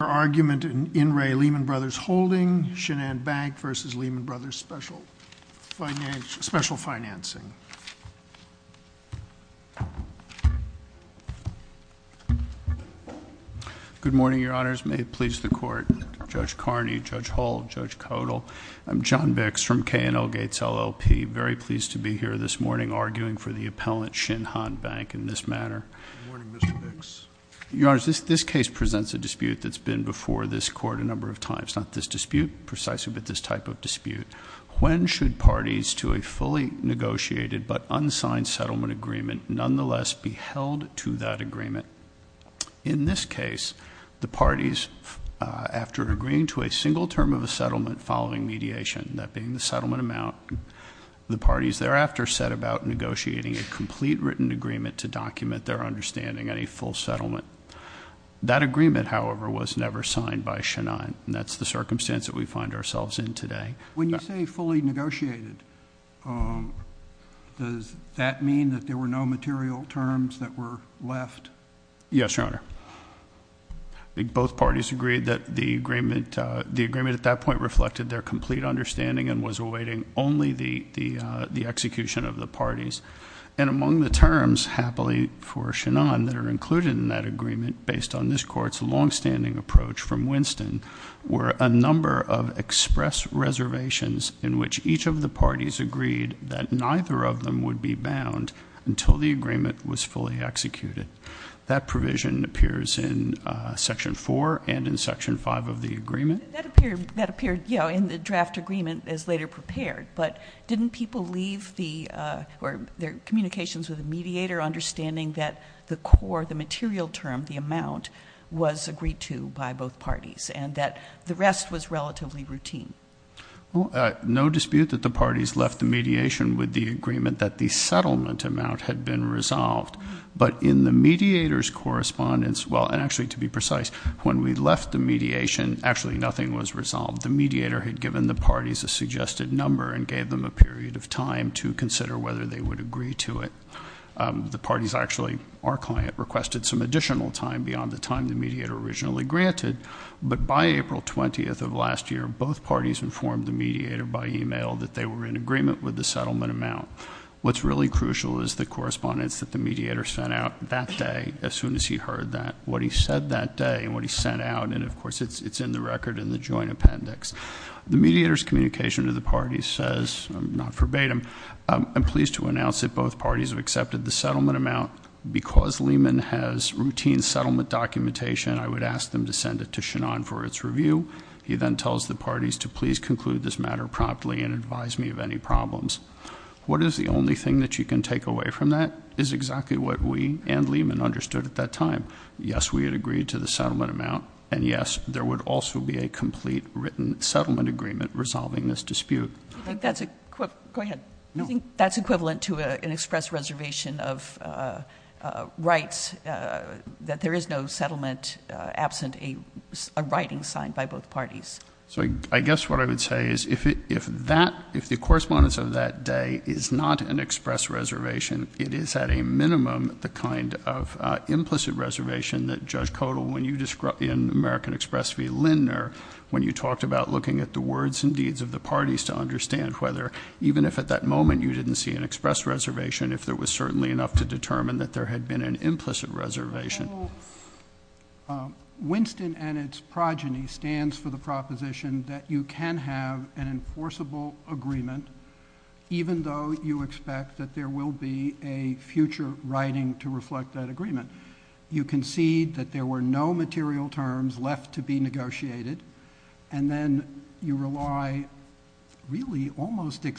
for argument in In Re Lehman Brothers Holding, Shinhan Bank versus Lehman Brothers Special Financing. Good morning, your honors. May it please the court. Judge Carney, Judge Hull, Judge Codal, I'm John Bix from K&L Gates, LLP. Very pleased to be here this morning arguing for the appellant, Shinhan Bank, in this matter. Good morning, Mr. Bix. Your honors, this case presents a dispute that's been before this court a number of times. Not this dispute, precisely, but this type of dispute. When should parties to a fully negotiated but unsigned settlement agreement nonetheless be held to that agreement? In this case, the parties, after agreeing to a single term of a settlement following mediation, that being the settlement amount, the parties thereafter set about negotiating a complete written agreement to document their understanding at a full settlement. That agreement, however, was never signed by Shinhan, and that's the circumstance that we find ourselves in today. When you say fully negotiated, does that mean that there were no material terms that were left? Yes, your honor. Both parties agreed that the agreement at that point reflected their complete understanding and was awaiting only the execution of the parties. And among the terms, happily for Shinhan, that are included in that agreement, based on this court's longstanding approach from Winston, were a number of express reservations in which each of the parties agreed that neither of them would be bound until the agreement was fully executed. That provision appears in section four and in section five of the agreement. That appeared in the draft agreement as later prepared, but didn't people leave their communications with the mediator understanding that the core, the material term, the amount, was agreed to by both parties, and that the rest was relatively routine? No dispute that the parties left the mediation with the agreement that the settlement amount had been resolved. But in the mediator's correspondence, well, and actually to be precise, when we left the mediation, actually nothing was resolved, the mediator had given the parties a suggested number and gave them a period of time to consider whether they would agree to it. The parties actually, our client, requested some additional time beyond the time the mediator originally granted. But by April 20th of last year, both parties informed the mediator by email that they were in agreement with the settlement amount. What's really crucial is the correspondence that the mediator sent out that day, as soon as he heard that, what he said that day, and what he sent out. And of course, it's in the record in the joint appendix. The mediator's communication to the parties says, not verbatim, I'm pleased to announce that both parties have accepted the settlement amount. Because Lehman has routine settlement documentation, I would ask them to send it to Shannon for its review. He then tells the parties to please conclude this matter promptly and advise me of any problems. What is the only thing that you can take away from that is exactly what we and Lehman understood at that time. Yes, we had agreed to the settlement amount. And yes, there would also be a complete written settlement agreement resolving this dispute. I think that's a quick, go ahead. I think that's equivalent to an express reservation of rights, that there is no settlement absent a writing signed by both parties. So I guess what I would say is, if the correspondence of that day is not an express reservation, it is at a minimum the kind of implicit reservation that Judge Codal, when you described in American Express v Lindner, when you talked about looking at the words and deeds of the parties to understand whether even if at that moment you didn't see an express reservation, if there was certainly enough to determine that there had been an implicit reservation. Winston and its progeny stands for the proposition that you can have an enforceable agreement, even though you expect that there will be a future writing to reflect that agreement. You concede that there were no material terms left to be negotiated, and then you rely really almost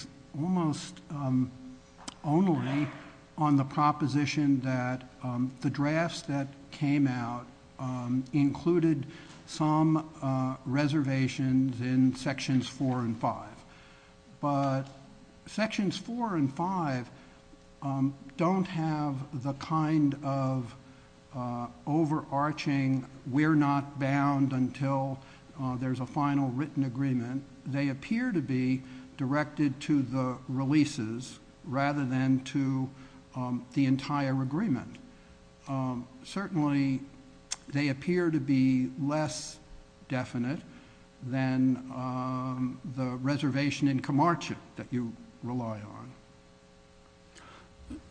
only on the proposition that the drafts that came out included some reservations in sections four and five. But sections four and five don't have the kind of overarching we're not bound until there's a final written agreement. They appear to be directed to the releases rather than to the entire agreement. Certainly, they appear to be less definite than the reservation in Camarche that you rely on.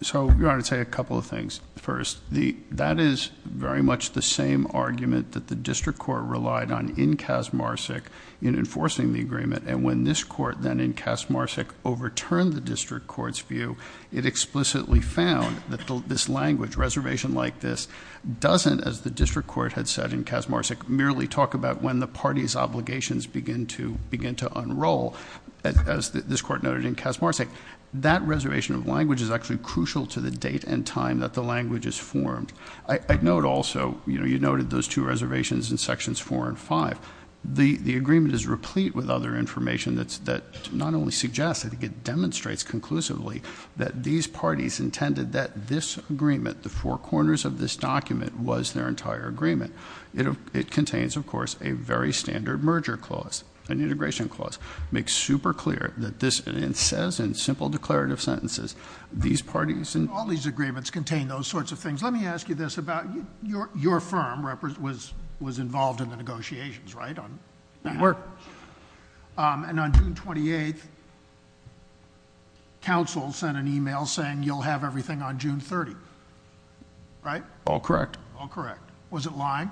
So, Your Honor, I'd say a couple of things. First, that is very much the same argument that the district court relied on in Kazmarsk in enforcing the agreement, and when this court then in Kazmarsk overturned the district court's view, it explicitly found that this language, reservation like this, doesn't, as the district court had said in Kazmarsk, merely talk about when the party's obligations begin to unroll, as this court noted in Kazmarsk. That reservation of language is actually crucial to the date and time that the language is formed. I'd note also, you noted those two reservations in sections four and five. The agreement is replete with other information that not only suggests, I think it demonstrates conclusively, that these parties intended that this agreement, the four corners of this document, was their entire agreement. It contains, of course, a very standard merger clause, an integration clause. Makes super clear that this, and it says in simple declarative sentences, these parties- All these agreements contain those sorts of things. Let me ask you this about, your firm was involved in the negotiations, right? It worked. And on June 28th, counsel sent an email saying you'll have everything on June 30th, right? All correct. All correct. Was it lying?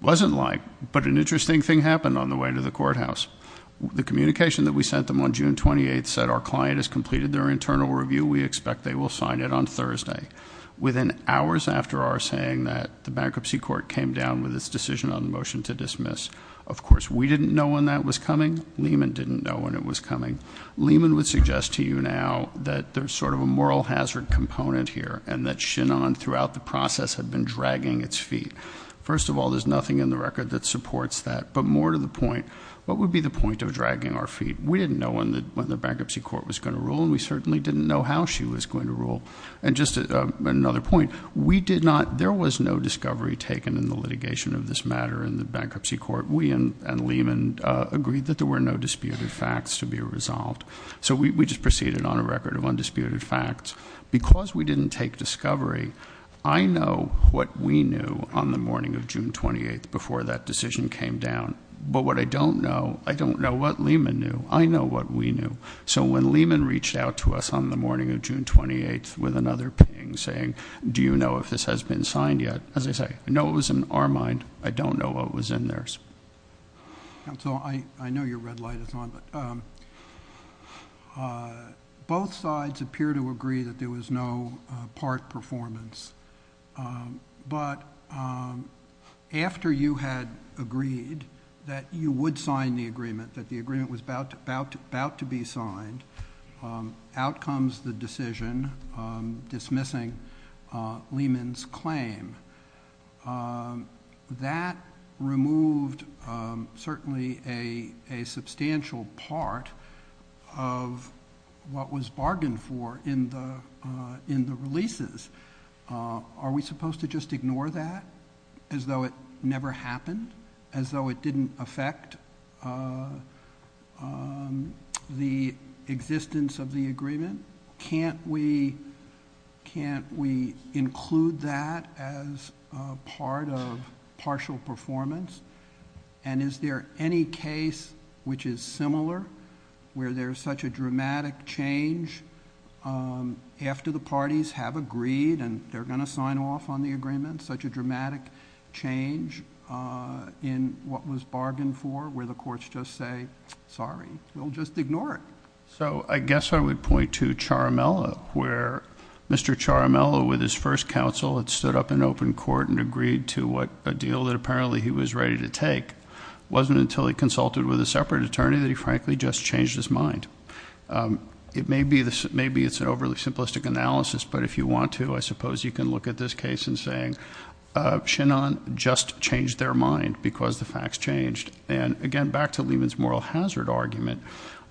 Wasn't lying. But an interesting thing happened on the way to the courthouse. The communication that we sent them on June 28th said our client has completed their internal review. We expect they will sign it on Thursday. Within hours after our saying that, the bankruptcy court came down with its decision on motion to dismiss. Of course, we didn't know when that was coming. Lehman didn't know when it was coming. Lehman would suggest to you now that there's sort of a moral hazard component here and that Shenan throughout the process had been dragging its feet. First of all, there's nothing in the record that supports that. But more to the point, what would be the point of dragging our feet? We didn't know when the bankruptcy court was going to rule and we certainly didn't know how she was going to rule. And just another point, we did not, there was no discovery taken in the litigation of this matter in the bankruptcy court. We and Lehman agreed that there were no disputed facts to be resolved. So we just proceeded on a record of undisputed facts. Because we didn't take discovery, I know what we knew on the morning of June 28th before that decision came down. But what I don't know, I don't know what Lehman knew, I know what we knew. So when Lehman reached out to us on the morning of June 28th with another ping saying, do you know if this has been signed yet? As I say, I know it was in our mind, I don't know what was in theirs. And so, I know your red light is on, but both sides appear to agree that there was no part performance. But after you had agreed that you would sign the agreement, that the agreement was about to be signed, out comes the decision dismissing Lehman's claim, that removed certainly a substantial part of what was bargained for in the releases. Are we supposed to just ignore that as though it never happened? As though it didn't affect the existence of the agreement? Can't we include that as part of partial performance? And is there any case which is similar, where there's such a dramatic change after the parties have agreed and they're going to sign off on the agreement, such a dramatic change in what was bargained for, where the courts just say, sorry, we'll just ignore it. So I guess I would point to Charamella, where Mr. Charamella, with his first counsel, had stood up in open court and agreed to a deal that apparently he was ready to take. Wasn't until he consulted with a separate attorney that he frankly just changed his mind. It may be it's an overly simplistic analysis, but if you want to, I suppose you can look at this case in saying, Shannon just changed their mind because the facts changed. And again, back to Lehman's moral hazard argument.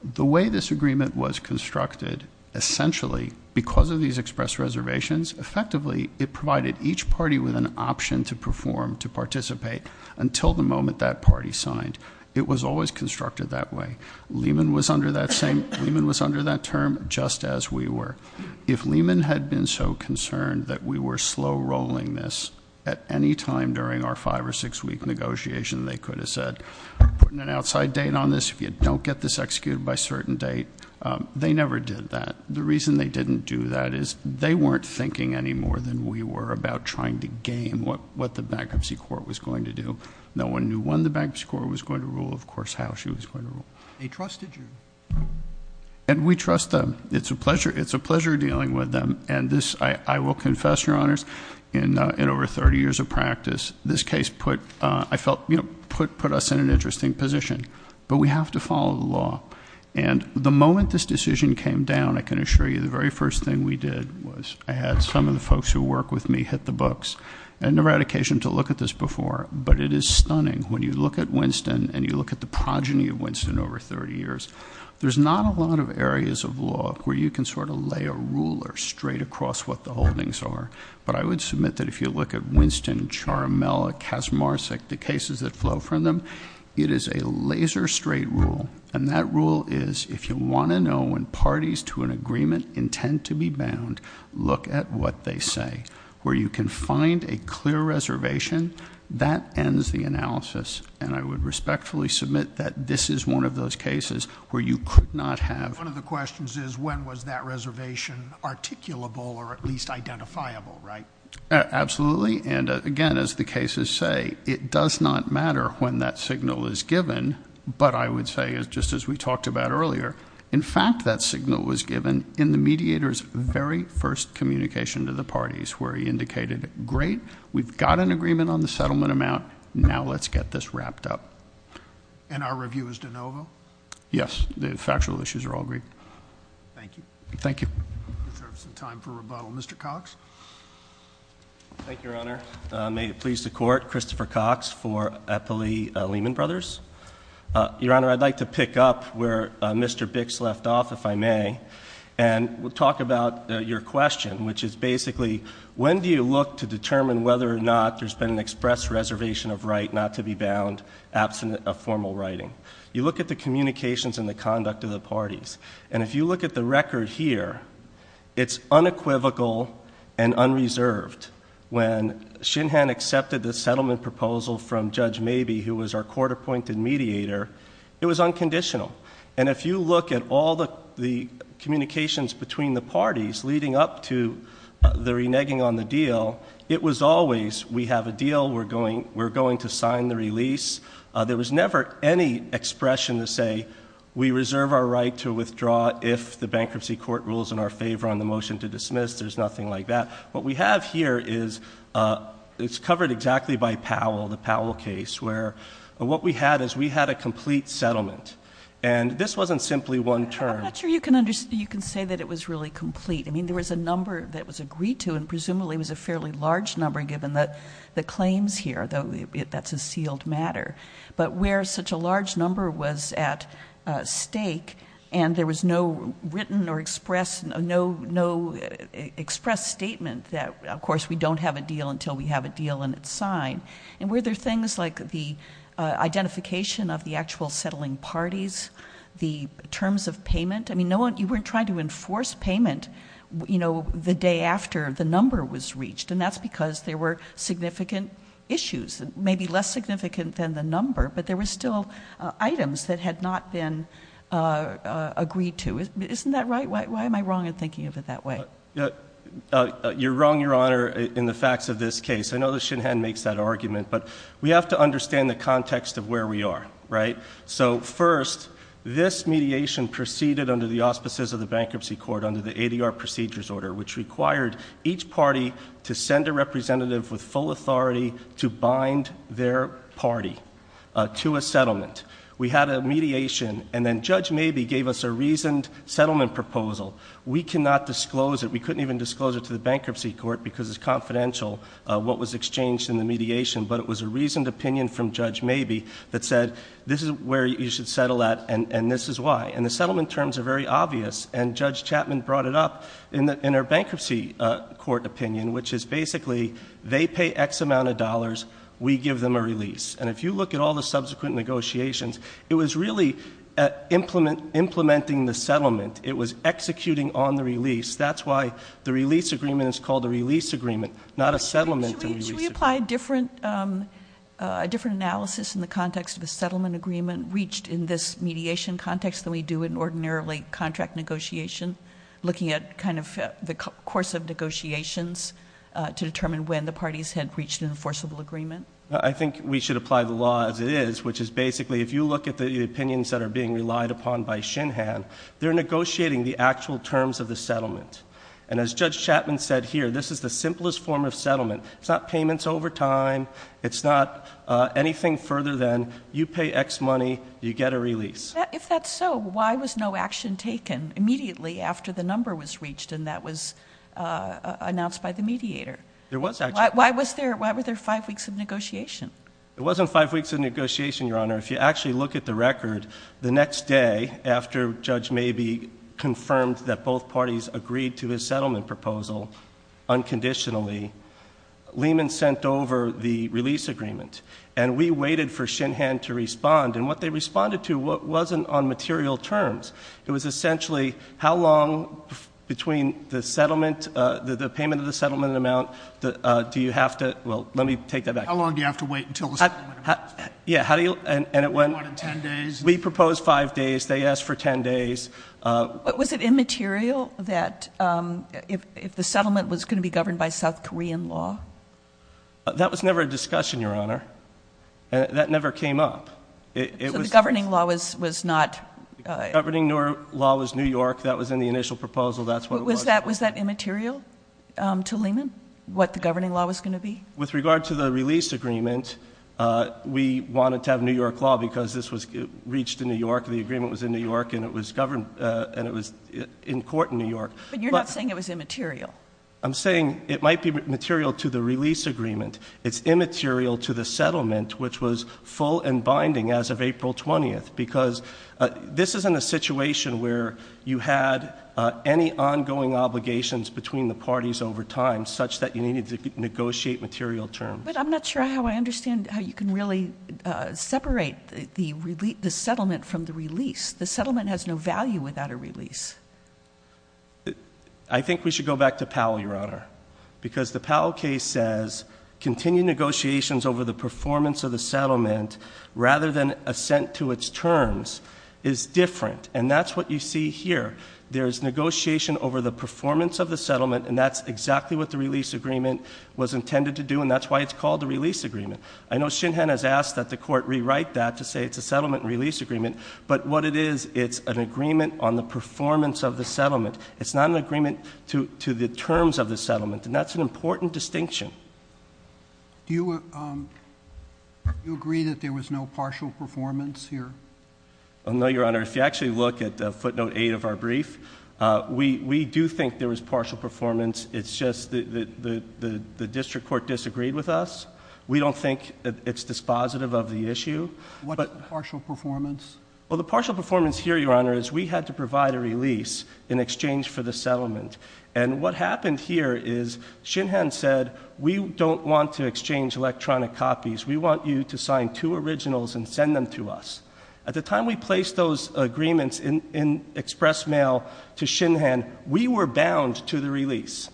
The way this agreement was constructed, essentially, because of these express reservations, effectively it provided each party with an option to perform, to participate, until the moment that party signed. It was always constructed that way. Lehman was under that term just as we were. If Lehman had been so concerned that we were slow rolling this at any time during our five or six week negotiation, they could have said, putting an outside date on this. If you don't get this executed by a certain date, they never did that. The reason they didn't do that is they weren't thinking any more than we were about trying to game what the bankruptcy court was going to do. No one knew when the bankruptcy court was going to rule, of course, how she was going to rule. They trusted you. And we trust them. It's a pleasure dealing with them. And this, I will confess, your honors, in over 30 years of practice, this case put us in an interesting position, but we have to follow the law. And the moment this decision came down, I can assure you the very first thing we did was I had some of the folks who work with me hit the books. I never had occasion to look at this before, but it is stunning when you look at Winston and you look at the progeny of Winston over 30 years. There's not a lot of areas of law where you can sort of lay a ruler straight across what the holdings are. But I would submit that if you look at Winston, Charmella, Kasmarsic, the cases that flow from them, it is a laser straight rule. And that rule is, if you want to know when parties to an agreement intend to be bound, look at what they say, where you can find a clear reservation, that ends the analysis. And I would respectfully submit that this is one of those cases where you could not have- Absolutely, and again, as the cases say, it does not matter when that signal is given. But I would say, just as we talked about earlier, in fact, that signal was given in the mediator's very first communication to the parties, where he indicated, great, we've got an agreement on the settlement amount, now let's get this wrapped up. And our review is de novo? Yes, the factual issues are all agreed. Thank you. Thank you. We have some time for rebuttal. Mr. Cox? Thank you, Your Honor. May it please the court, Christopher Cox for Eppley Lehman Brothers. Your Honor, I'd like to pick up where Mr. Bix left off, if I may, and we'll talk about your question, which is basically, when do you look to determine whether or not there's been an express reservation of right not to be bound, absent of formal writing? You look at the communications and the conduct of the parties. And if you look at the record here, it's unequivocal and unreserved when Shinhan accepted the settlement proposal from Judge Mabee, who was our court appointed mediator, it was unconditional. And if you look at all the communications between the parties leading up to the reneging on the deal, it was always, we have a deal, we're going to sign the release. There was never any expression to say, we reserve our right to withdraw if the bankruptcy court rules in our favor on the motion to dismiss. There's nothing like that. What we have here is, it's covered exactly by Powell, the Powell case, where what we had is we had a complete settlement. And this wasn't simply one term. I'm not sure you can say that it was really complete. I mean, there was a number that was agreed to, and presumably it was a fairly large number given that the claims here, that's a sealed matter, but where such a large number was at stake, and there was no written or expressed statement that, of course, we don't have a deal until we have a deal and it's signed. And were there things like the identification of the actual settling parties, the terms of payment? I mean, you weren't trying to enforce payment the day after the number was reached. And that's because there were significant issues, maybe less significant than the number, but there were still items that had not been agreed to. Isn't that right? Why am I wrong in thinking of it that way? You're wrong, Your Honor, in the facts of this case. I know that Shinhan makes that argument, but we have to understand the context of where we are, right? So first, this mediation proceeded under the auspices of the bankruptcy court under the ADR procedures order, which required each party to send a representative with full authority to bind their party to a settlement. We had a mediation, and then Judge Mabee gave us a reasoned settlement proposal. We cannot disclose it. We couldn't even disclose it to the bankruptcy court because it's confidential, what was exchanged in the mediation. But it was a reasoned opinion from Judge Mabee that said, this is where you should settle at, and this is why. And the settlement terms are very obvious, and Judge Chapman brought it up in her bankruptcy court opinion, which is basically, they pay X amount of dollars, we give them a release. And if you look at all the subsequent negotiations, it was really implementing the settlement. It was executing on the release. That's why the release agreement is called a release agreement, not a settlement. Should we apply a different analysis in the context of a settlement agreement reached in this mediation context than we do in ordinarily contract negotiation? Looking at kind of the course of negotiations to determine when the parties had reached an enforceable agreement. I think we should apply the law as it is, which is basically, if you look at the opinions that are being relied upon by Shinhan, And as Judge Chapman said here, this is the simplest form of settlement. It's not payments over time, it's not anything further than you pay X money, you get a release. If that's so, why was no action taken immediately after the number was reached and that was announced by the mediator? There was action. Why were there five weeks of negotiation? It wasn't five weeks of negotiation, Your Honor. If you actually look at the record, the next day after Judge Mabee confirmed that both parties agreed to a settlement proposal unconditionally, Lehman sent over the release agreement, and we waited for Shinhan to respond. And what they responded to wasn't on material terms. It was essentially, how long between the settlement, the payment of the settlement amount, do you have to, well, let me take that back. How long do you have to wait until the settlement amount is paid? Yeah, how do you, and it went- It went in ten days. We proposed five days, they asked for ten days. But was it immaterial that, if the settlement was going to be governed by South Korean law? That was never a discussion, Your Honor. That never came up. It was- So the governing law was not- Governing law was New York, that was in the initial proposal, that's what it was. Was that immaterial to Lehman, what the governing law was going to be? With regard to the release agreement, we wanted to have New York law because this was reached in New York, the agreement was in New York, and it was governed, and it was in court in New York. But you're not saying it was immaterial. I'm saying it might be material to the release agreement. It's immaterial to the settlement, which was full and binding as of April 20th. Because this isn't a situation where you had any ongoing obligations between the parties over time, such that you needed to negotiate material terms. But I'm not sure how I understand how you can really separate the settlement from the release. The settlement has no value without a release. I think we should go back to Powell, Your Honor. Because the Powell case says, continued negotiations over the performance of the settlement, rather than assent to its terms, is different. And that's what you see here. There's negotiation over the performance of the settlement, and that's exactly what the release agreement was intended to do, and that's why it's called the release agreement. I know Shinhan has asked that the court rewrite that to say it's a settlement release agreement. But what it is, it's an agreement on the performance of the settlement. It's not an agreement to the terms of the settlement, and that's an important distinction. Do you agree that there was no partial performance here? No, Your Honor. If you actually look at footnote eight of our brief, we do think there was partial performance. It's just that the district court disagreed with us. We don't think it's dispositive of the issue. What's the partial performance? Well, the partial performance here, Your Honor, is we had to provide a release in exchange for the settlement. And what happened here is, Shinhan said, we don't want to exchange electronic copies. We want you to sign two originals and send them to us. At the time we placed those agreements in express mail to Shinhan, we were bound to the release.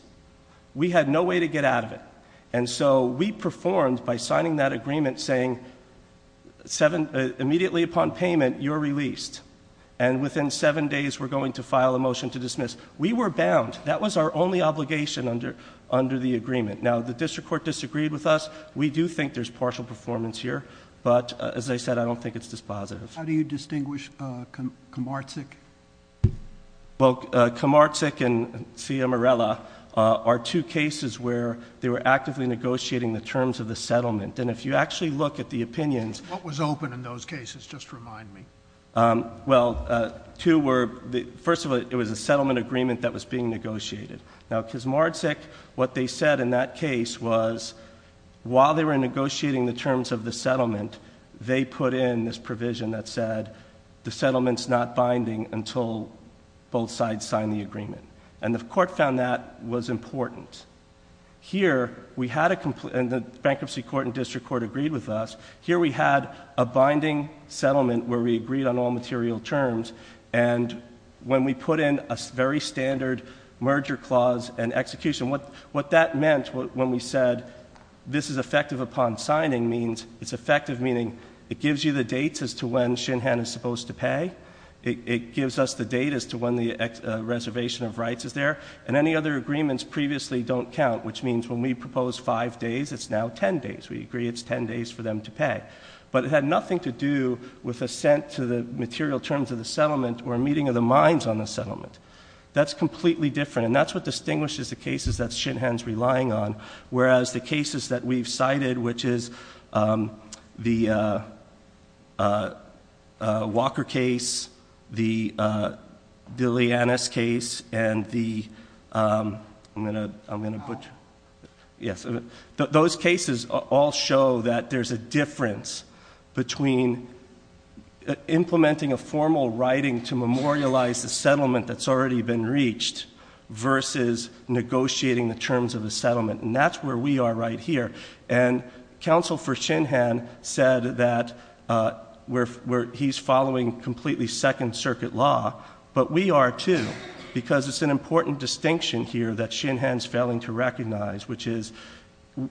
We had no way to get out of it. And so we performed by signing that agreement saying, immediately upon payment, you're released. And within seven days, we're going to file a motion to dismiss. We were bound. That was our only obligation under the agreement. Now, the district court disagreed with us. We do think there's partial performance here. But, as I said, I don't think it's dispositive. How do you distinguish Kamarczyk? Well, Kamarczyk and Sia Morella are two cases where they were actively negotiating the terms of the settlement. And if you actually look at the opinions- What was open in those cases? Just remind me. Well, two were, first of all, it was a settlement agreement that was being negotiated. Now, because Kamarczyk, what they said in that case was, while they were negotiating the terms of the settlement, they put in this provision that said, the settlement's not binding until both sides sign the agreement. And the court found that was important. Here, we had a, and the bankruptcy court and district court agreed with us, here we had a binding settlement where we agreed on all material terms. And when we put in a very standard merger clause and execution, what that meant when we said this is effective upon signing means it's effective, meaning it gives you the dates as to when Shinhan is supposed to pay. It gives us the date as to when the reservation of rights is there. And any other agreements previously don't count, which means when we propose five days, it's now ten days. We agree it's ten days for them to pay. But it had nothing to do with assent to the material terms of the settlement or meeting of the minds on the settlement. That's completely different, and that's what distinguishes the cases that Shinhan's relying on. Whereas the cases that we've cited, which is the Walker case, the Deleonis case, and the, I'm going to butcher. Yes, those cases all show that there's a difference between implementing a formal writing to memorialize the settlement that's already been reached, versus negotiating the terms of the settlement, and that's where we are right here. And counsel for Shinhan said that he's following completely second circuit law, but we are too, because it's an important distinction here that Shinhan's failing to recognize, which is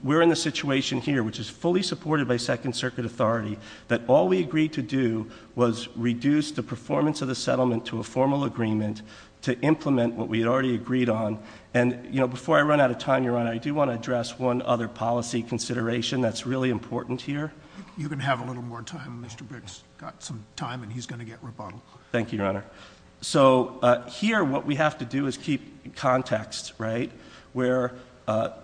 we're in the situation here, which is fully supported by second circuit authority, that all we agreed to do was reduce the performance of the settlement to a formal agreement to implement what we had already agreed on. And before I run out of time, Your Honor, I do want to address one other policy consideration that's really important here. You can have a little more time, Mr. Briggs. Got some time and he's going to get rebuttal. Thank you, Your Honor. So here, what we have to do is keep context, right? Where the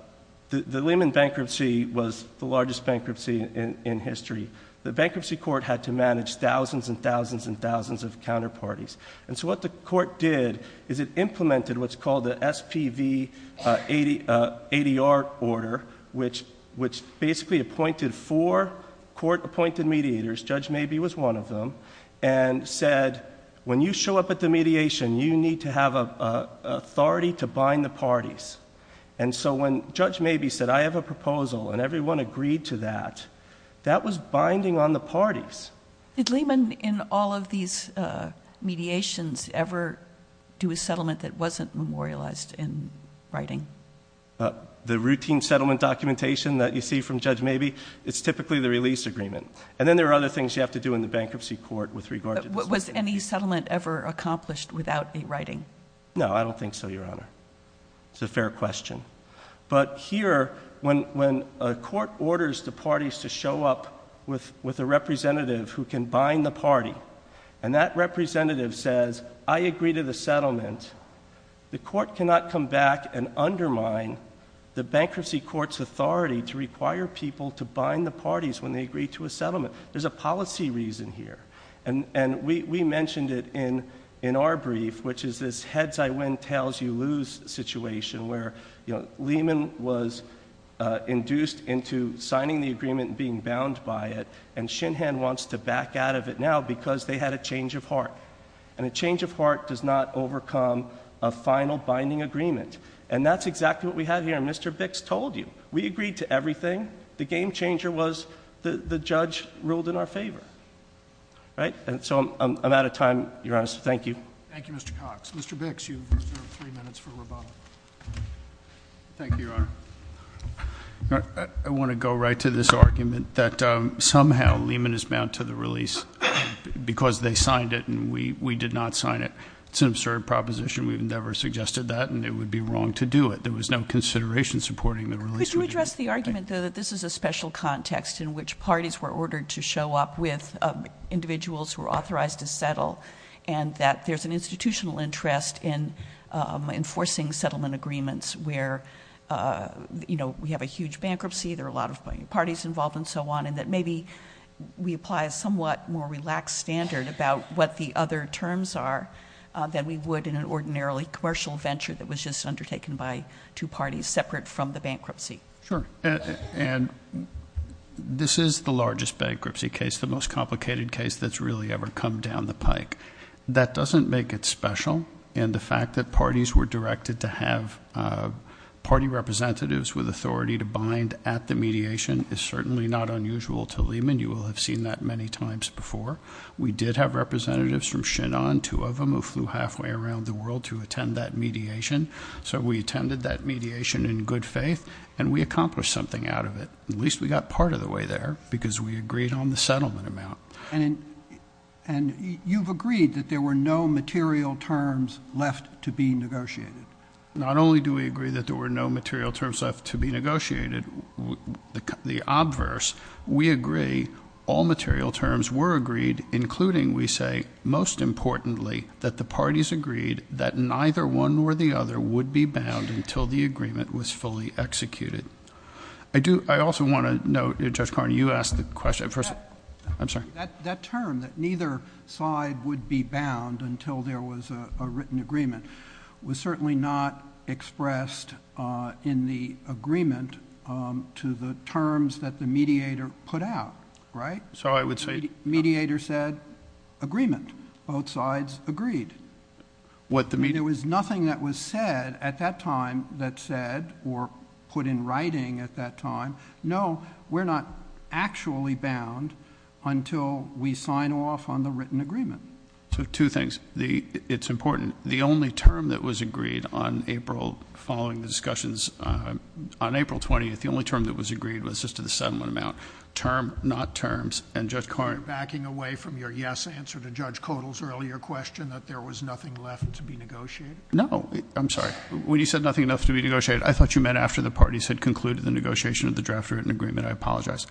Lehman bankruptcy was the largest bankruptcy in history. The bankruptcy court had to manage thousands and thousands and thousands of counterparties. And so what the court did is it implemented what's called the SPV ADR order, which basically appointed four court-appointed mediators. Judge Mabee was one of them, and said, when you show up at the mediation, you need to have authority to bind the parties. And so when Judge Mabee said, I have a proposal, and everyone agreed to that, that was binding on the parties. Did Lehman, in all of these mediations, ever do a settlement that wasn't memorialized in writing? The routine settlement documentation that you see from Judge Mabee, it's typically the release agreement. And then there are other things you have to do in the bankruptcy court with regard to this. Was any settlement ever accomplished without a writing? No, I don't think so, Your Honor. It's a fair question. But here, when a court orders the parties to show up with a representative who can bind the party. And that representative says, I agree to the settlement. The court cannot come back and undermine the bankruptcy court's authority to require people to bind the parties when they agree to a settlement. There's a policy reason here. And we mentioned it in our brief, which is this heads I win, tails you lose situation. Where Lehman was induced into signing the agreement and being bound by it. And Shinhan wants to back out of it now because they had a change of heart. And a change of heart does not overcome a final binding agreement. And that's exactly what we have here, and Mr. Bix told you. We agreed to everything. The game changer was the judge ruled in our favor, right? And so, I'm out of time, Your Honor, so thank you. Thank you, Mr. Cox. Mr. Bix, you've reserved three minutes for rebuttal. Thank you, Your Honor. I want to go right to this argument that somehow Lehman is bound to the release because they signed it and we did not sign it. It's an absurd proposition, we've never suggested that, and it would be wrong to do it. There was no consideration supporting the release. Could you address the argument, though, that this is a special context in which parties were ordered to show up with individuals who are authorized to settle. And that there's an institutional interest in enforcing settlement agreements where we have a huge bankruptcy, there are a lot of parties involved and so on. And that maybe we apply a somewhat more relaxed standard about what the other terms are than we would in an ordinarily commercial venture that was just undertaken by two parties separate from the bankruptcy. Sure, and this is the largest bankruptcy case, the most complicated case that's really ever come down the pike. That doesn't make it special, and the fact that parties were directed to have party representatives with authority to bind at the mediation is certainly not unusual to Lehman. You will have seen that many times before. We did have representatives from Shenan, two of them, who flew halfway around the world to attend that mediation. So we attended that mediation in good faith, and we accomplished something out of it. At least we got part of the way there, because we agreed on the settlement amount. And you've agreed that there were no material terms left to be negotiated. Not only do we agree that there were no material terms left to be negotiated, the obverse, we agree all material terms were agreed, including, we say, most importantly, that the parties agreed that neither one nor the other would be bound until the agreement was fully executed. I also want to note, Judge Carney, you asked the question. I'm sorry. That term, that neither side would be bound until there was a written agreement, was certainly not expressed in the agreement to the terms that the mediator put out, right? So I would say- Mediator said, agreement, both sides agreed. What the mediator- He was hiding at that time. No, we're not actually bound until we sign off on the written agreement. So two things. It's important. The only term that was agreed on April, following the discussions, on April 20th, the only term that was agreed was just to the settlement amount. Term, not terms. And Judge Carney- Are you backing away from your yes answer to Judge Codall's earlier question that there was nothing left to be negotiated? No. I'm sorry. When you said nothing enough to be negotiated, I thought you meant after the parties had concluded the negotiation of the draft written agreement. I apologize.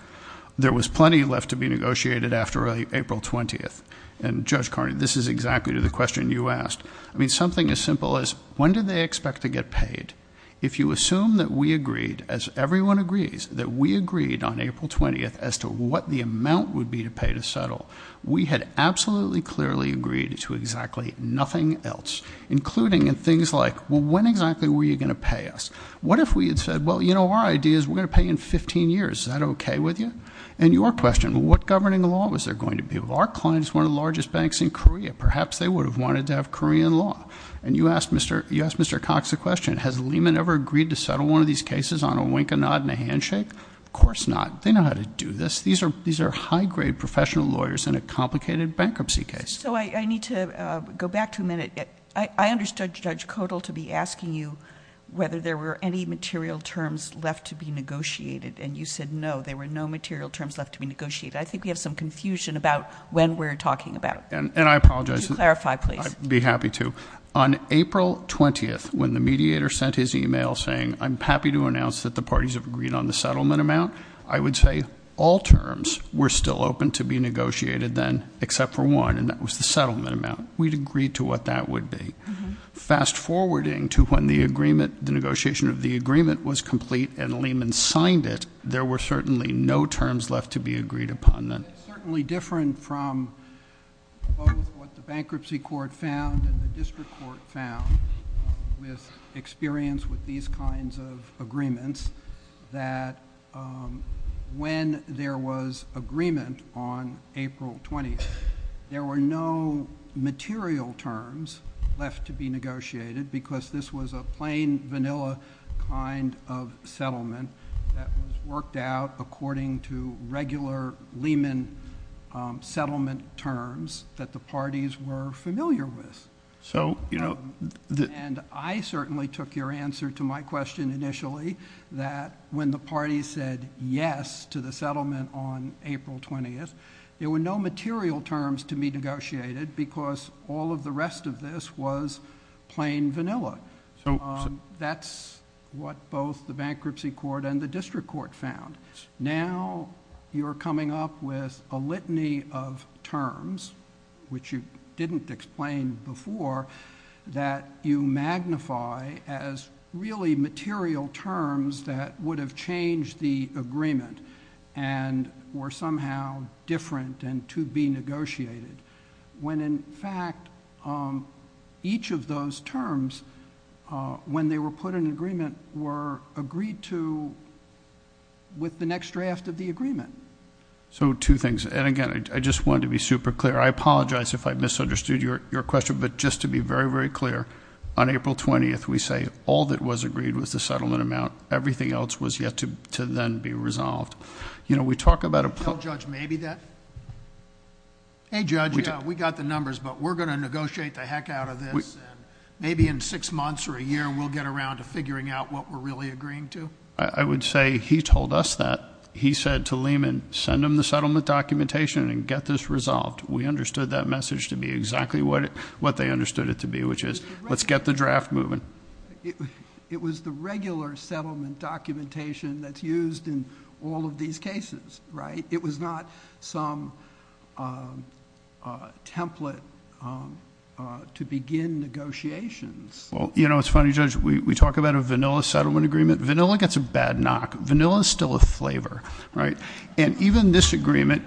There was plenty left to be negotiated after April 20th. And Judge Carney, this is exactly to the question you asked. I mean, something as simple as, when do they expect to get paid? If you assume that we agreed, as everyone agrees, that we agreed on April 20th as to what the amount would be to pay to settle. We had absolutely clearly agreed to exactly nothing else. Including in things like, well, when exactly were you going to pay us? What if we had said, well, you know, our idea is we're going to pay in 15 years, is that okay with you? And your question, what governing law was there going to be? Well, our client is one of the largest banks in Korea, perhaps they would have wanted to have Korean law. And you asked Mr. Cox a question, has Lehman ever agreed to settle one of these cases on a wink, a nod, and a handshake? Of course not, they know how to do this. These are high grade professional lawyers in a complicated bankruptcy case. So I need to go back to a minute. I understood Judge Codal to be asking you whether there were any material terms left to be negotiated. And you said no, there were no material terms left to be negotiated. I think we have some confusion about when we're talking about. And I apologize. To clarify, please. I'd be happy to. On April 20th, when the mediator sent his email saying, I'm happy to announce that the parties have agreed on the settlement amount. I would say all terms were still open to be negotiated then, except for one, and that was the settlement amount. We'd agree to what that would be. Fast forwarding to when the negotiation of the agreement was complete and Lehman signed it, there were certainly no terms left to be agreed upon then. It's certainly different from both what the bankruptcy court found and the case that when there was agreement on April 20th, there were no material terms left to be negotiated, because this was a plain vanilla kind of settlement that was worked out according to regular Lehman settlement terms that the parties were familiar with. I certainly took your answer to my question initially, that when the parties said yes to the settlement on April 20th, there were no material terms to be negotiated because all of the rest of this was plain vanilla. That's what both the bankruptcy court and the district court found. Now you're coming up with a litany of terms, which you didn't explain before, that you magnify as really material terms that would have changed the agreement and were somehow different and to be negotiated. When in fact, each of those terms when they were put in agreement were agreed to with the next draft of the agreement. So two things, and again, I just wanted to be super clear. I apologize if I misunderstood your question, but just to be very, very clear. On April 20th, we say all that was agreed was the settlement amount. Everything else was yet to then be resolved. We talk about a- Tell Judge maybe that. Hey Judge, we got the numbers, but we're going to negotiate the heck out of this. Maybe in six months or a year, we'll get around to figuring out what we're really agreeing to. I would say he told us that. He said to Lehman, send him the settlement documentation and get this resolved. We understood that message to be exactly what they understood it to be, which is, let's get the draft moving. It was the regular settlement documentation that's used in all of these cases, right? It was not some template to begin negotiations. Well, you know, it's funny, Judge. We talk about a vanilla settlement agreement. Vanilla gets a bad knock. Vanilla's still a flavor, right? And even this agreement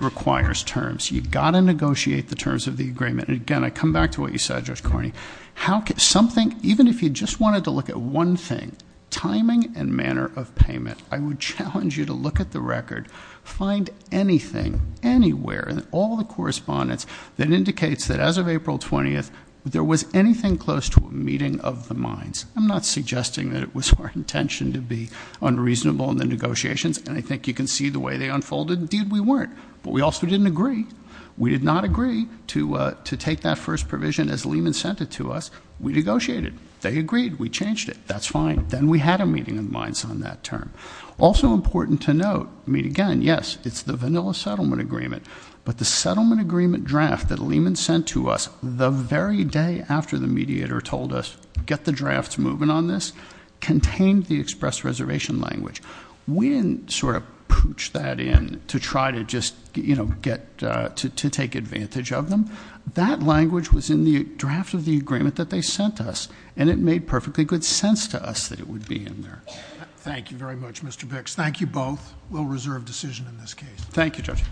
requires terms. You've got to negotiate the terms of the agreement. And again, I come back to what you said, Judge Carney. How could something, even if you just wanted to look at one thing, timing and manner of payment. I would challenge you to look at the record, find anything, anywhere, all the correspondence that indicates that as of April 20th, there was anything close to a meeting of the minds. I'm not suggesting that it was our intention to be unreasonable in the negotiations, and I think you can see the way they unfolded. Indeed, we weren't, but we also didn't agree. We did not agree to take that first provision as Lehman sent it to us. We negotiated. They agreed. We changed it. That's fine. Then we had a meeting of minds on that term. Also important to note, I mean again, yes, it's the vanilla settlement agreement. But the settlement agreement draft that Lehman sent to us the very day after the mediator told us, get the drafts moving on this, contained the express reservation language. We didn't sort of pooch that in to try to just get, to take advantage of them. That language was in the draft of the agreement that they sent us. And it made perfectly good sense to us that it would be in there. Thank you very much, Mr. Bix. Thank you both. We'll reserve decision in this case. Thank you, Judge.